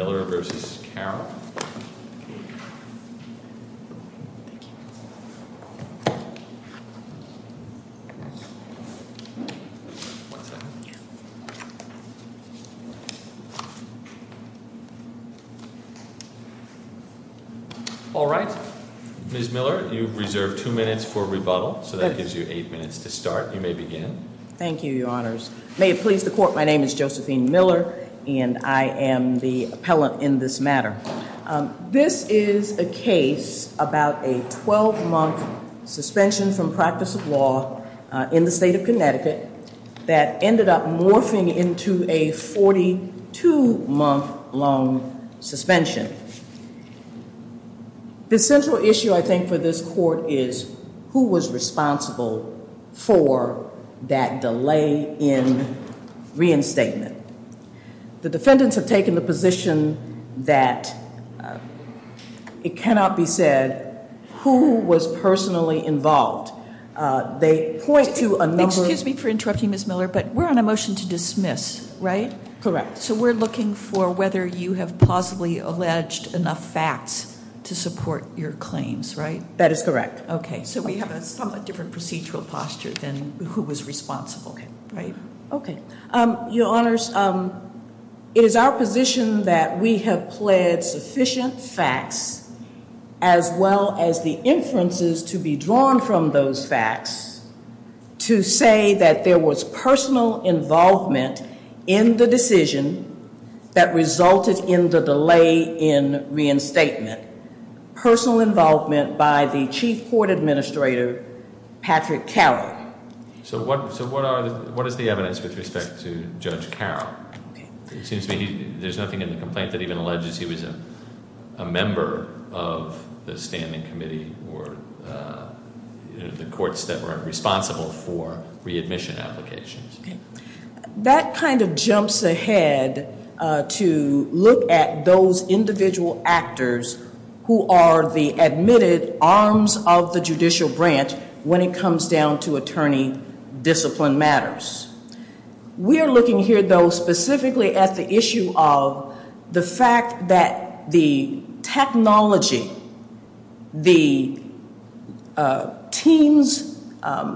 All right, Ms. Miller, you reserve two minutes for rebuttal, so that gives you eight minutes to start. You may begin. Thank you, Your Honors. May it please the Court. My name is Josephine Miller, and I am the appellant in this matter. This is a case about a 12-month suspension from practice of law in the state of Connecticut that ended up morphing into a 42-month long suspension. The central issue, I think, for this Court is who was responsible for that delay in reinstatement. The defendants have taken the position that it cannot be said who was personally involved. They point to a number of— Excuse me for interrupting, Ms. Miller, but we're on a motion to dismiss, right? Correct. So we're looking for whether you have possibly alleged enough facts to support your claims, right? That is correct. Okay. So we have a somewhat different procedural posture than who was responsible, right? Okay. Your Honors, it is our position that we have pled sufficient facts, as well as the inferences to be drawn from those facts, to say that there was personal involvement in the decision that resulted in the delay in reinstatement. Personal involvement by the Chief Court Administrator, Patrick Carroll. So what is the evidence with respect to Judge Carroll? It seems to me there's nothing in the complaint that even alleges he was a member of the standing committee or the courts that were responsible for readmission applications. That kind of jumps ahead to look at those individual actors who are the admitted arms of the judicial branch when it comes down to attorney discipline matters. We are looking here, though, specifically at the issue of the fact that the technology, the TEAMS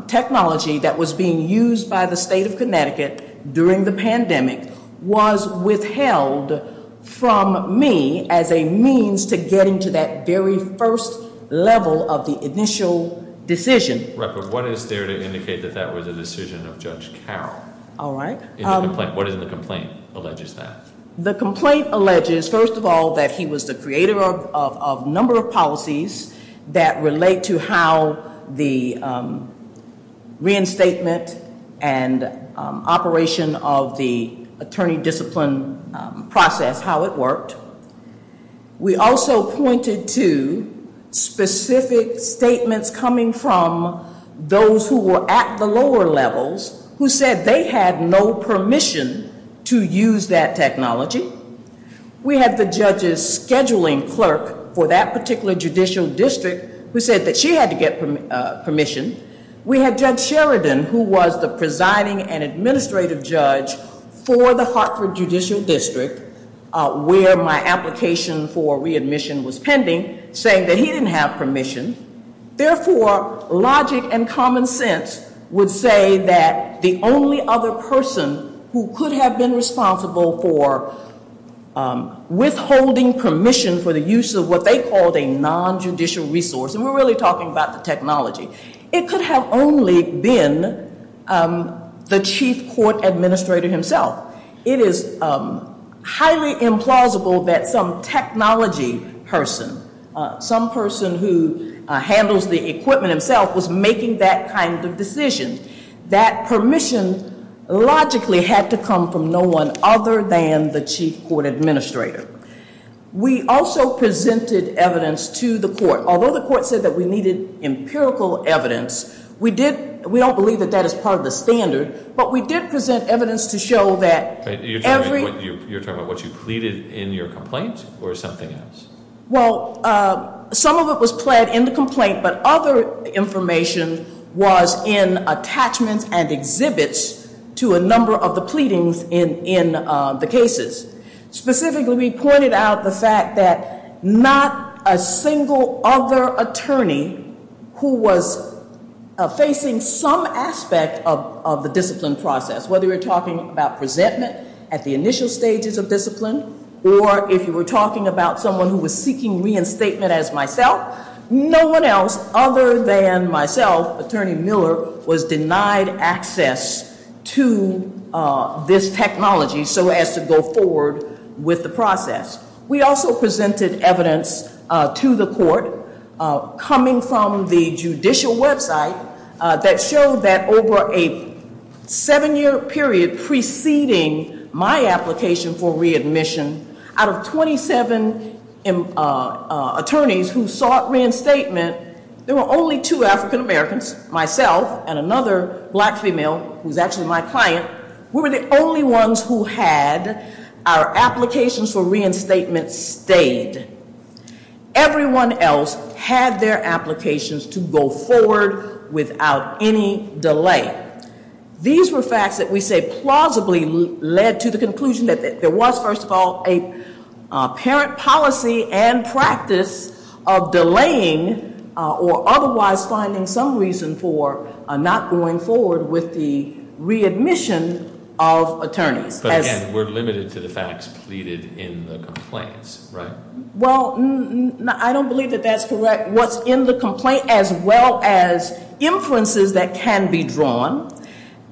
technology that was being used by the state of Connecticut during the pandemic was withheld from me as a means to get into that very first level of the initial decision. Rep, what is there to indicate that that was a decision of Judge Carroll? All right. What is in the complaint alleges that? The complaint alleges, first of all, that he was the creator of a number of policies that relate to how the reinstatement and operation of the attorney discipline process, how it worked. We also pointed to specific statements coming from those who were at the lower levels who said they had no permission to use that technology. We had the judge's scheduling clerk for that particular judicial district who said that she had to get permission. We had Judge Sheridan, who was the presiding and administrative judge for the Hartford Judicial District, where my application for readmission was pending, saying that he didn't have permission. Therefore, logic and common sense would say that the only other person who could have been responsible for withholding permission for the use of what they called a non-judicial resource, and we're really talking about the technology, it could have only been the chief court administrator himself. It is highly implausible that some technology person, some person who handles the equipment himself was making that kind of decision. That permission logically had to come from no one other than the chief court administrator. We also presented evidence to the court. Although the court said that we needed empirical evidence, we don't believe that that is part of the standard, but we did present evidence to show that every- You're talking about what you pleaded in your complaint or something else? Well, some of it was pled in the complaint, but other information was in attachments and exhibits to a number of the pleadings in the cases. Specifically, we pointed out the fact that not a single other attorney who was facing some aspect of the discipline process, whether you're talking about presentment at the initial stages of discipline or if you were talking about someone who was seeking reinstatement as myself, no one else other than myself, Attorney Miller, was denied access to this technology so as to go forward with the process. We also presented evidence to the court coming from the judicial website that showed that over a seven-year period preceding my application for readmission, out of 27 attorneys who sought reinstatement, there were only two African Americans, myself and another black female who's actually my client, we were the only ones who had our applications for reinstatement stayed. Everyone else had their applications to go forward without any delay. These were facts that we say plausibly led to the conclusion that there was, first of all, a parent policy and practice of delaying or otherwise finding some reason for not going forward with the readmission of attorneys. But again, we're limited to the facts pleaded in the complaints, right? Well, I don't believe that that's correct. What's in the complaint as well as inferences that can be drawn,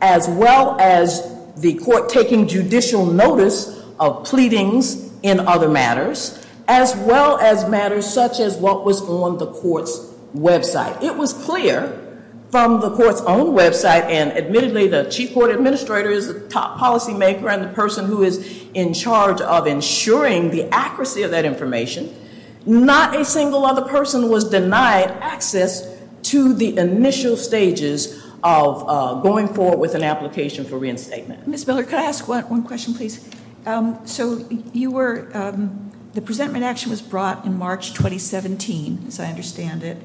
as well as the court taking judicial notice of pleadings in other matters, as well as matters such as what was on the court's website. It was clear from the court's own website, and admittedly, the chief court administrator is the top policymaker and the person who is in charge of ensuring the accuracy of that information, not a single other person was denied access to the initial stages of going forward with an application for reinstatement. Ms. Miller, could I ask one question, please? So the presentment action was brought in March 2017, as I understand it,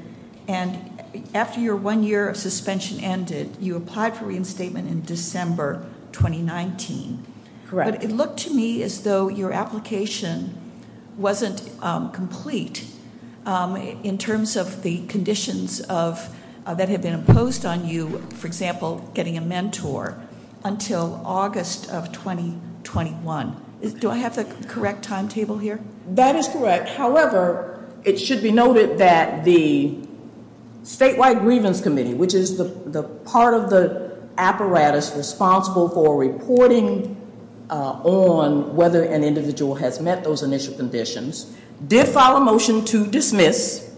and after your one year of suspension ended, you applied for reinstatement in December 2019. Correct. But it looked to me as though your application wasn't complete in terms of the conditions that have been imposed on you, for example, getting a mentor, until August of 2021. Do I have the correct timetable here? That is correct. However, it should be noted that the Statewide Grievance Committee, which is the part of the apparatus responsible for reporting on whether an individual has met those initial conditions, did file a motion to dismiss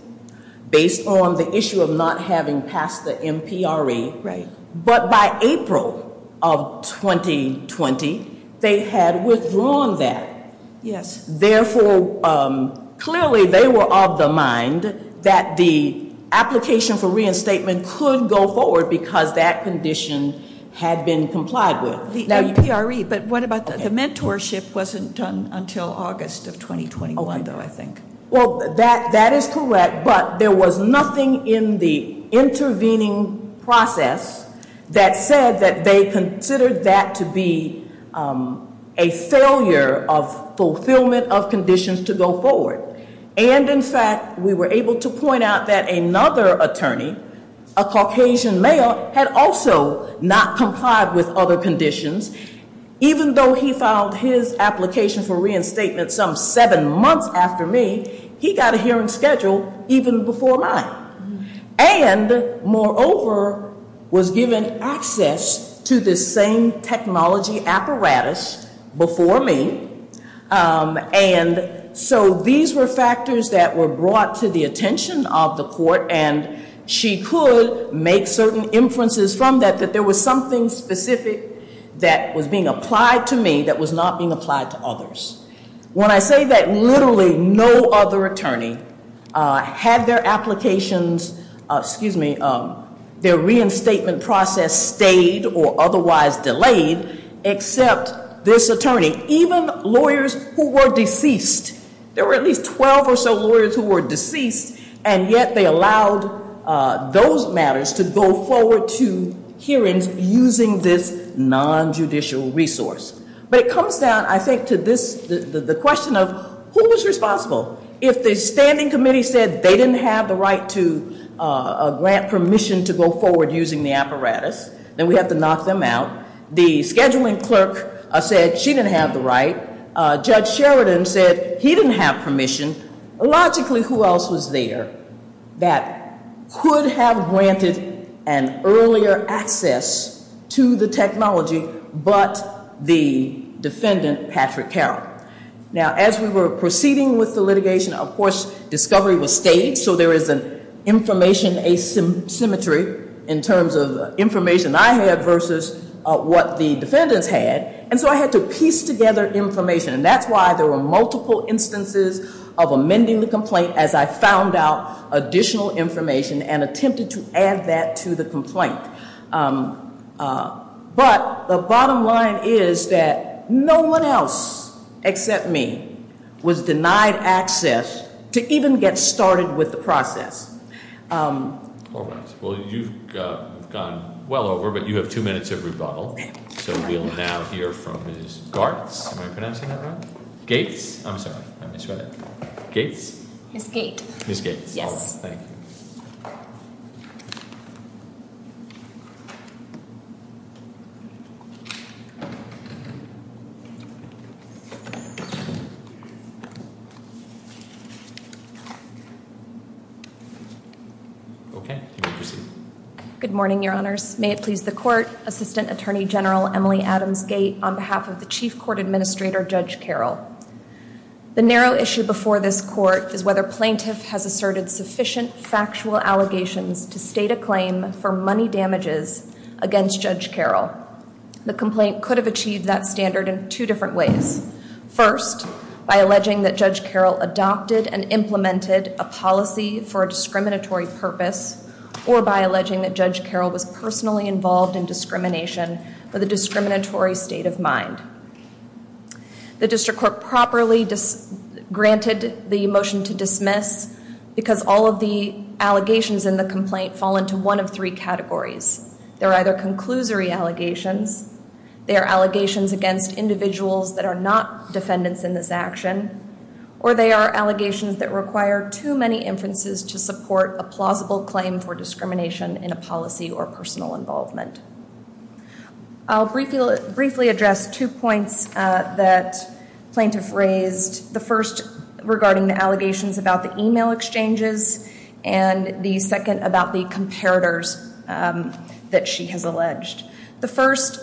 based on the issue of not having passed the MPRE. But by April of 2020, they had withdrawn that. Therefore, clearly they were of the mind that the application for reinstatement could go forward because that condition had been complied with. The MPRE. But what about the mentorship? Mentorship wasn't done until August of 2021, though, I think. Well, that is correct, but there was nothing in the intervening process that said that they considered that to be a failure of fulfillment of conditions to go forward. And in fact, we were able to point out that another attorney, a Caucasian male, had also not complied with other conditions. Even though he filed his application for reinstatement some seven months after me, he got a hearing scheduled even before mine. And moreover, was given access to this same technology apparatus before me. And so these were factors that were brought to the attention of the court, and she could make certain inferences from that, that there was something specific that was being applied to me that was not being applied to others. When I say that literally no other attorney had their applications, excuse me, their reinstatement process stayed or otherwise delayed except this attorney. Even lawyers who were deceased, there were at least 12 or so lawyers who were deceased, and yet they allowed those matters to go forward to hearings using this nonjudicial resource. But it comes down, I think, to this, the question of who was responsible. If the standing committee said they didn't have the right to grant permission to go forward using the apparatus, then we have to knock them out. The scheduling clerk said she didn't have the right. Judge Sheridan said he didn't have permission. Logically, who else was there that could have granted an earlier access to the technology but the defendant, Patrick Carroll? Now, as we were proceeding with the litigation, of course, discovery was staged. So there is an information asymmetry in terms of information I had versus what the defendants had. And so I had to piece together information. And that's why there were multiple instances of amending the complaint as I found out additional information and attempted to add that to the complaint. But the bottom line is that no one else except me was denied access to even get started with the process. All right, well you've gone well over, but you have two minutes of rebuttal. So we'll now hear from Ms. Gartz, am I pronouncing that right? Gates? I'm sorry, I misread it. Gates? Ms. Gate. Ms. Gates. Yes. Thank you. Okay, you may proceed. Good morning, your honors. May it please the court, Assistant Attorney General Emily Adams Gate on behalf of the Chief Court Administrator, Judge Carroll. The narrow issue before this court is whether plaintiff has asserted sufficient factual allegations to state a claim for money damages against Judge Carroll. The complaint could have achieved that standard in two different ways. First, by alleging that Judge Carroll adopted and implemented a policy for personally involved in discrimination with a discriminatory state of mind. The district court properly granted the motion to dismiss, because all of the allegations in the complaint fall into one of three categories. They're either conclusory allegations, they are allegations against individuals that are not defendants in this action. Or they are allegations that require too many inferences to support a plausible claim for discrimination in a policy or personal involvement. I'll briefly address two points that plaintiff raised. The first regarding the allegations about the email exchanges and the second about the comparators that she has alleged. The first,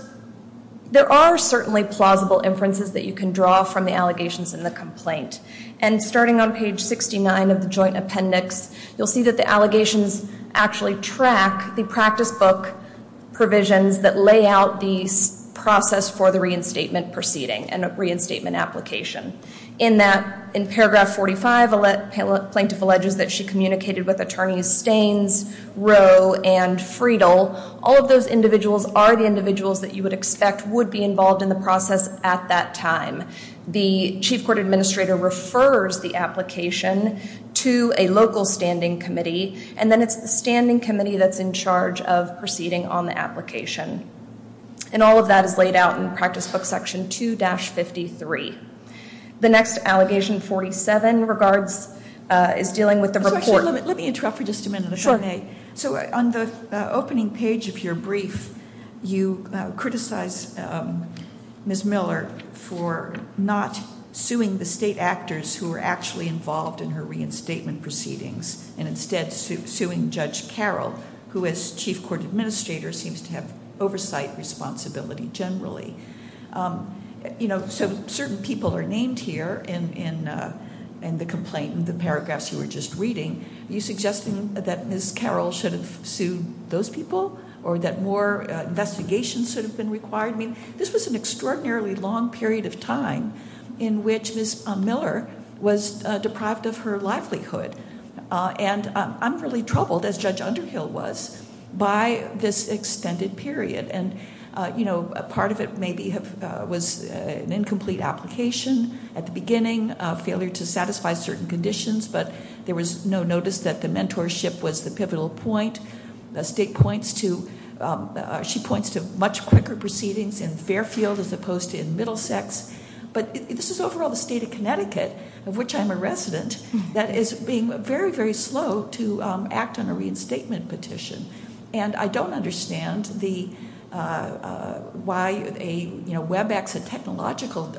there are certainly plausible inferences that you can draw from the allegations in the complaint. And starting on page 69 of the joint appendix, you'll see that the allegations actually track the practice book provisions that lay out the process for the reinstatement proceeding and reinstatement application. In that, in paragraph 45, the plaintiff alleges that she communicated with attorneys Staines, Rowe, and Friedle, all of those individuals are the individuals that you would expect would be involved in the process at that time. The chief court administrator refers the application to a local standing committee, and then it's the standing committee that's in charge of proceeding on the application. And all of that is laid out in practice book section 2-53. The next allegation 47 regards, is dealing with the report. Let me interrupt for just a minute, if I may. So on the opening page of your brief, you criticize Ms. Miller for not suing the state actors who were actually involved in her reinstatement proceedings. And instead suing Judge Carroll, who as chief court administrator seems to have oversight responsibility generally. So certain people are named here in the complaint, in the paragraphs you were just reading. Are you suggesting that Ms. Carroll should have sued those people, or that more investigations should have been required? I mean, this was an extraordinarily long period of time in which Ms. Miller was deprived of her livelihood. And I'm really troubled, as Judge Underhill was, by this extended period. And part of it maybe was an incomplete application at the beginning, failure to satisfy certain conditions, but there was no notice that the mentorship was the pivotal point. The state points to, she points to much quicker proceedings in Fairfield as opposed to in Middlesex. But this is overall the state of Connecticut, of which I'm a resident, that is being very, very slow to act on a reinstatement petition. And I don't understand why a WebEx, a technological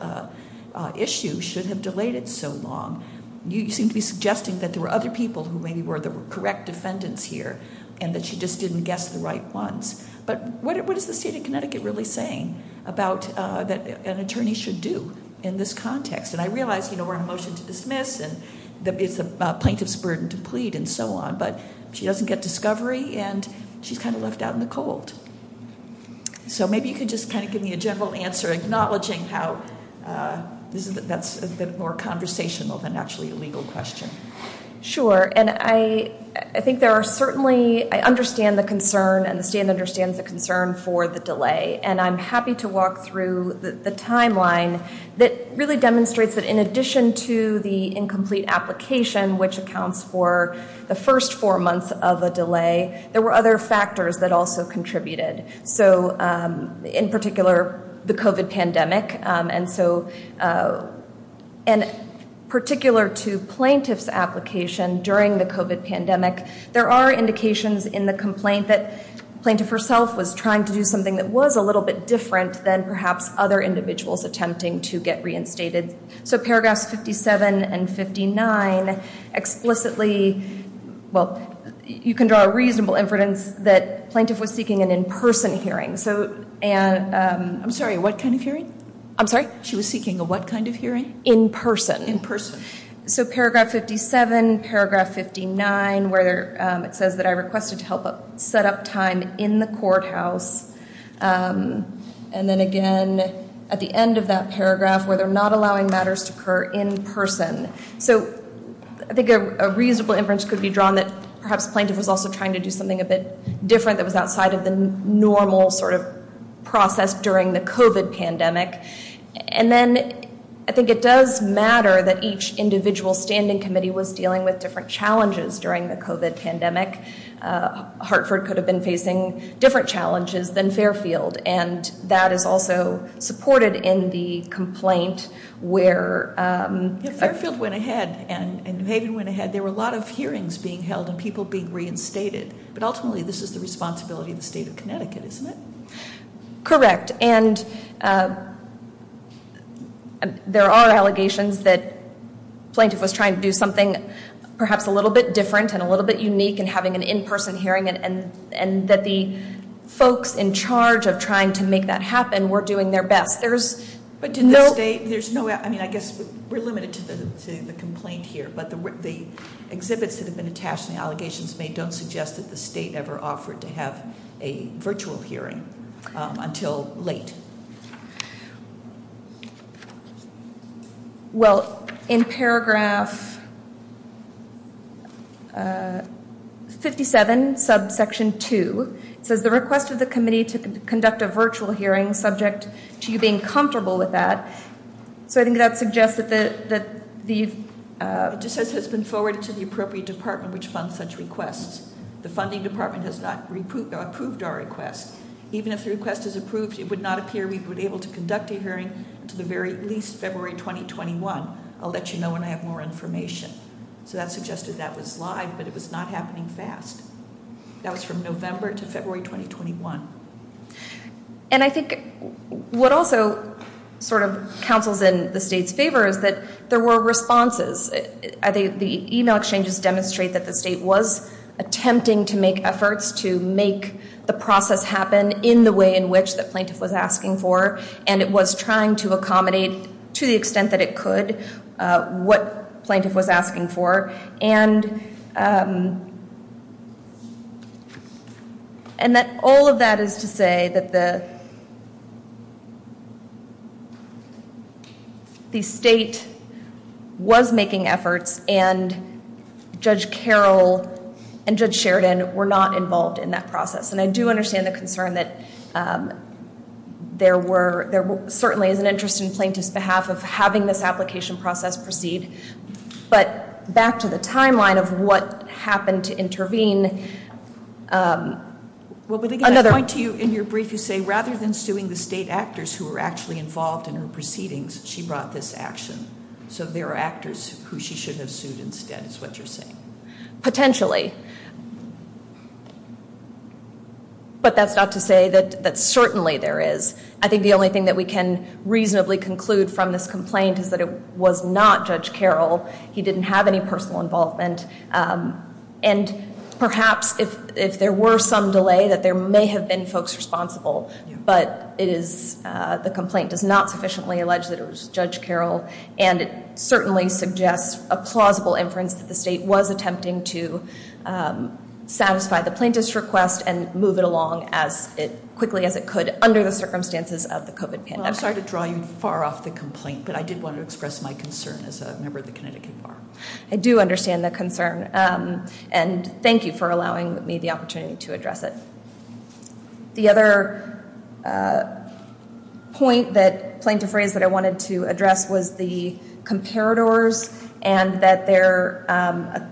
issue, should have delayed it so long. You seem to be suggesting that there were other people who maybe were the correct defendants here, and that she just didn't guess the right ones. But what is the state of Connecticut really saying about what an attorney should do in this context? And I realize we're in a motion to dismiss, and it's the plaintiff's burden to plead, and so on. But she doesn't get discovery, and she's kind of left out in the cold. So maybe you could just kind of give me a general answer, acknowledging how that's a bit more conversational than actually a legal question. Sure, and I think there are certainly, I understand the concern, and the stand understands the concern for the delay. And I'm happy to walk through the timeline that really demonstrates that in addition to the incomplete application, which accounts for the first four months of a delay, there were other factors that also contributed. So in particular, the COVID pandemic. And so in particular to plaintiff's application during the COVID pandemic, there are indications in the complaint that plaintiff herself was trying to do something that was a little bit different than perhaps other individuals attempting to get reinstated. So paragraphs 57 and 59 explicitly, well, you can draw a reasonable inference that plaintiff was seeking an in-person hearing. So, and- I'm sorry, what kind of hearing? I'm sorry? She was seeking a what kind of hearing? In person. In person. So paragraph 57, paragraph 59, where it says that I requested to help set up time in the courthouse. And then again, at the end of that paragraph, where they're not allowing matters to occur in person. So I think a reasonable inference could be drawn that perhaps plaintiff was also trying to do something a bit different that was outside of the normal sort of process during the COVID pandemic. And then I think it does matter that each individual standing committee was dealing with different challenges during the COVID pandemic. Hartford could have been facing different challenges than Fairfield. And that is also supported in the complaint where- Yeah, Fairfield went ahead and New Haven went ahead. There were a lot of hearings being held and people being reinstated. But ultimately, this is the responsibility of the state of Connecticut, isn't it? Correct. And there are allegations that plaintiff was trying to do something perhaps a little bit different and a little bit unique in having an in-person hearing and that the folks in charge of trying to make that happen were doing their best. There's- But didn't the state, there's no, I mean, I guess we're limited to the complaint here. But the exhibits that have been attached and the allegations made don't suggest that the state ever offered to have a virtual hearing until late. Well, in paragraph 57, subsection 2, it says the request of the committee to conduct a virtual hearing subject to you being comfortable with that. So I think that suggests that the- It just says it has been forwarded to the appropriate department which funds such requests. The funding department has not approved our request. Even if the request is approved, it would not appear we would be able to conduct a hearing until the very least February 2021. I'll let you know when I have more information. So that suggested that was live, but it was not happening fast. That was from November to February 2021. And I think what also sort of counsels in the state's favor is that there were responses. The email exchanges demonstrate that the state was attempting to make efforts to make the process happen in the way in which the plaintiff was asking for. And it was trying to accommodate, to the extent that it could, what plaintiff was asking for. And that all of that is to say that the state was making efforts and Judge Carroll and Judge Sheridan were not involved in that process. And I do understand the concern that there certainly is an interest in plaintiff's behalf of having this application process proceed. But back to the timeline of what happened to intervene. Another point to you in your brief, you say rather than suing the state actors who were actually involved in her proceedings, she brought this action. So there are actors who she should have sued instead is what you're saying. Potentially. But that's not to say that certainly there is. I think the only thing that we can reasonably conclude from this complaint is that it was not Judge Carroll. He didn't have any personal involvement. And perhaps if there were some delay that there may have been folks responsible. But it is, the complaint does not sufficiently allege that it was Judge Carroll. And it certainly suggests a plausible inference that the state was attempting to satisfy the plaintiff's request and move it along as quickly as it could under the circumstances of the COVID pandemic. I'm sorry to draw you far off the complaint, but I did want to express my concern as a member of the Connecticut Bar. I do understand the concern, and thank you for allowing me the opportunity to address it. The other point that plaintiff raised that I wanted to address was the comparators. And that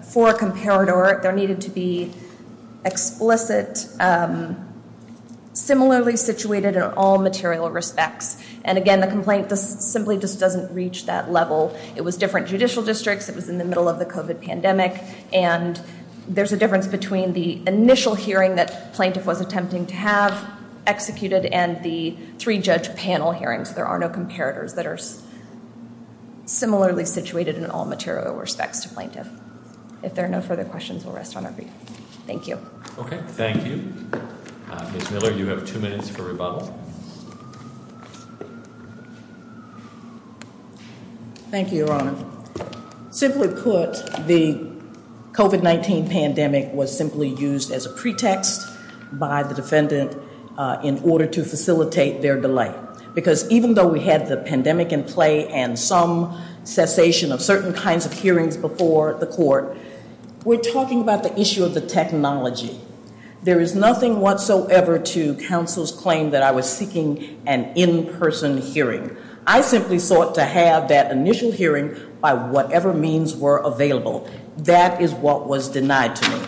for a comparator, there needed to be explicit, similarly situated in all material respects. And again, the complaint simply just doesn't reach that level. It was different judicial districts, it was in the middle of the COVID pandemic. And there's a difference between the initial hearing that plaintiff was attempting to have executed and the three judge panel hearings. There are no comparators that are similarly situated in all material respects to plaintiff. If there are no further questions, we'll rest on our feet. Thank you. Okay, thank you. Ms. Miller, you have two minutes for rebuttal. Thank you, Your Honor. Simply put, the COVID-19 pandemic was simply used as a pretext by the defendant in order to facilitate their delay. Because even though we had the pandemic in play and some cessation of certain kinds of hearings before the court, we're talking about the issue of the technology. There is nothing whatsoever to counsel's claim that I was seeking an in-person hearing. I simply sought to have that initial hearing by whatever means were available. That is what was denied to me.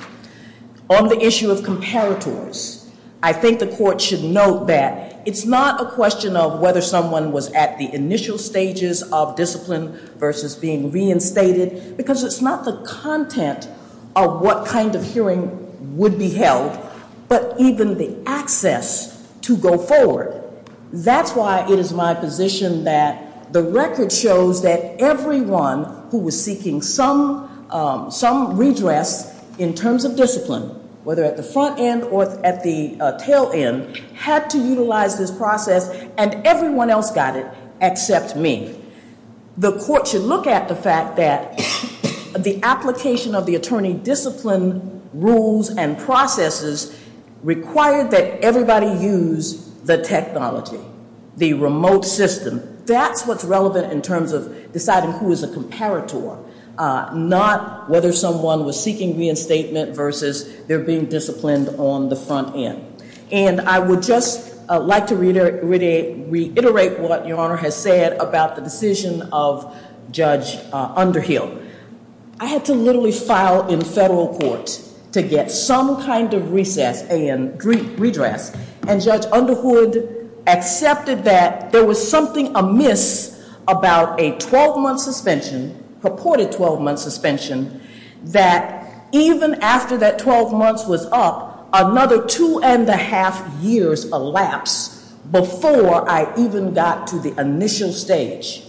On the issue of comparators, I think the court should note that it's not a question of whether someone was at the initial stages of discipline versus being reinstated. Because it's not the content of what kind of hearing would be held, but even the access to go forward. That's why it is my position that the record shows that everyone who was seeking some redress in terms of discipline, whether at the front end or at the tail end, had to utilize this process and everyone else got it except me. The court should look at the fact that the application of the attorney discipline rules and processes required that everybody use the technology, the remote system. That's what's relevant in terms of deciding who is a comparator. Not whether someone was seeking reinstatement versus they're being disciplined on the front end. And I would just like to reiterate what your honor has said about the decision of Judge Underhill. I had to literally file in federal court to get some kind of recess and redress. And Judge Underhood accepted that there was something amiss about a 12 month suspension, purported 12 month suspension, that even after that 12 months was up, another two and a half years elapsed before I even got to the initial stage.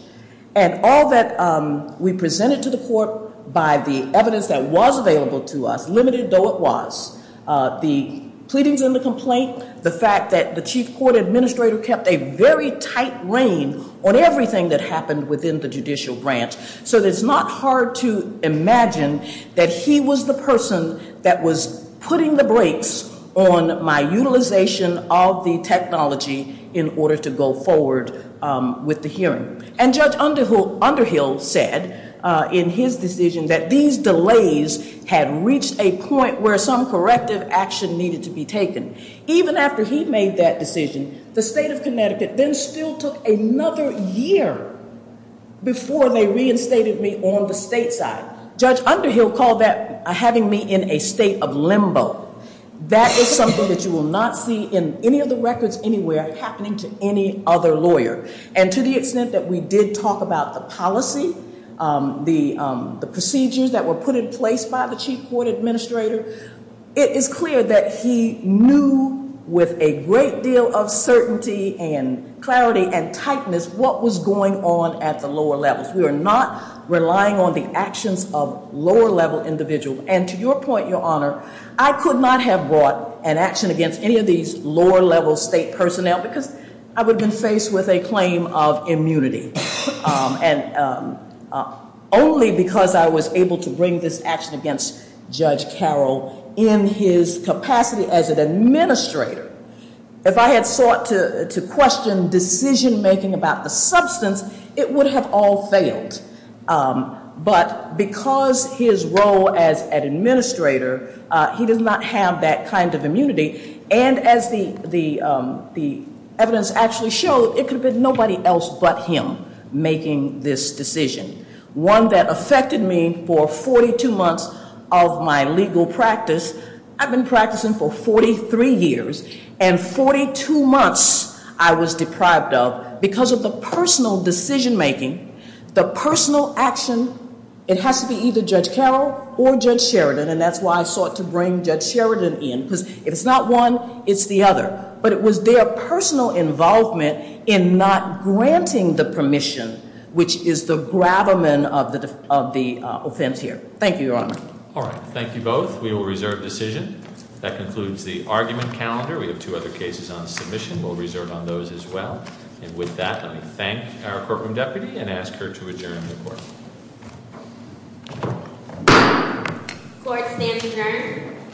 And all that we presented to the court by the evidence that was available to us, limited though it was. The pleadings in the complaint, the fact that the chief court administrator kept a very tight rein on everything that happened within the judicial branch. So it's not hard to imagine that he was the person that was putting the brakes on my utilization of the technology in order to go forward with the hearing. And Judge Underhill said in his decision that these delays had reached a point where some corrective action needed to be taken. Even after he made that decision, the state of Connecticut then still took another year before they reinstated me on the state side. Judge Underhill called that having me in a state of limbo. That is something that you will not see in any of the records anywhere happening to any other lawyer. And to the extent that we did talk about the policy, the procedures that were put in place by the chief court administrator. It is clear that he knew with a great deal of certainty and clarity and tightness what was going on at the lower levels. We are not relying on the actions of lower level individuals. And to your point, your honor, I could not have brought an action against any of these lower level state personnel because I would have been faced with a claim of immunity. And only because I was able to bring this action against Judge Carroll in his capacity as an administrator. If I had sought to question decision making about the substance, it would have all failed. But because his role as an administrator, he does not have that kind of immunity. And as the evidence actually showed, it could have been nobody else but him making this decision. One that affected me for 42 months of my legal practice. I've been practicing for 43 years, and 42 months I was deprived of, because of the personal decision making, the personal action. It has to be either Judge Carroll or Judge Sheridan, and that's why I sought to bring Judge Sheridan in. Because if it's not one, it's the other. But it was their personal involvement in not granting the permission, which is the grabberman of the offense here. Thank you, your honor. All right, thank you both. We will reserve decision. That concludes the argument calendar. We have two other cases on submission. We'll reserve on those as well. And with that, let me thank our courtroom deputy and ask her to adjourn the court. Court stands adjourned.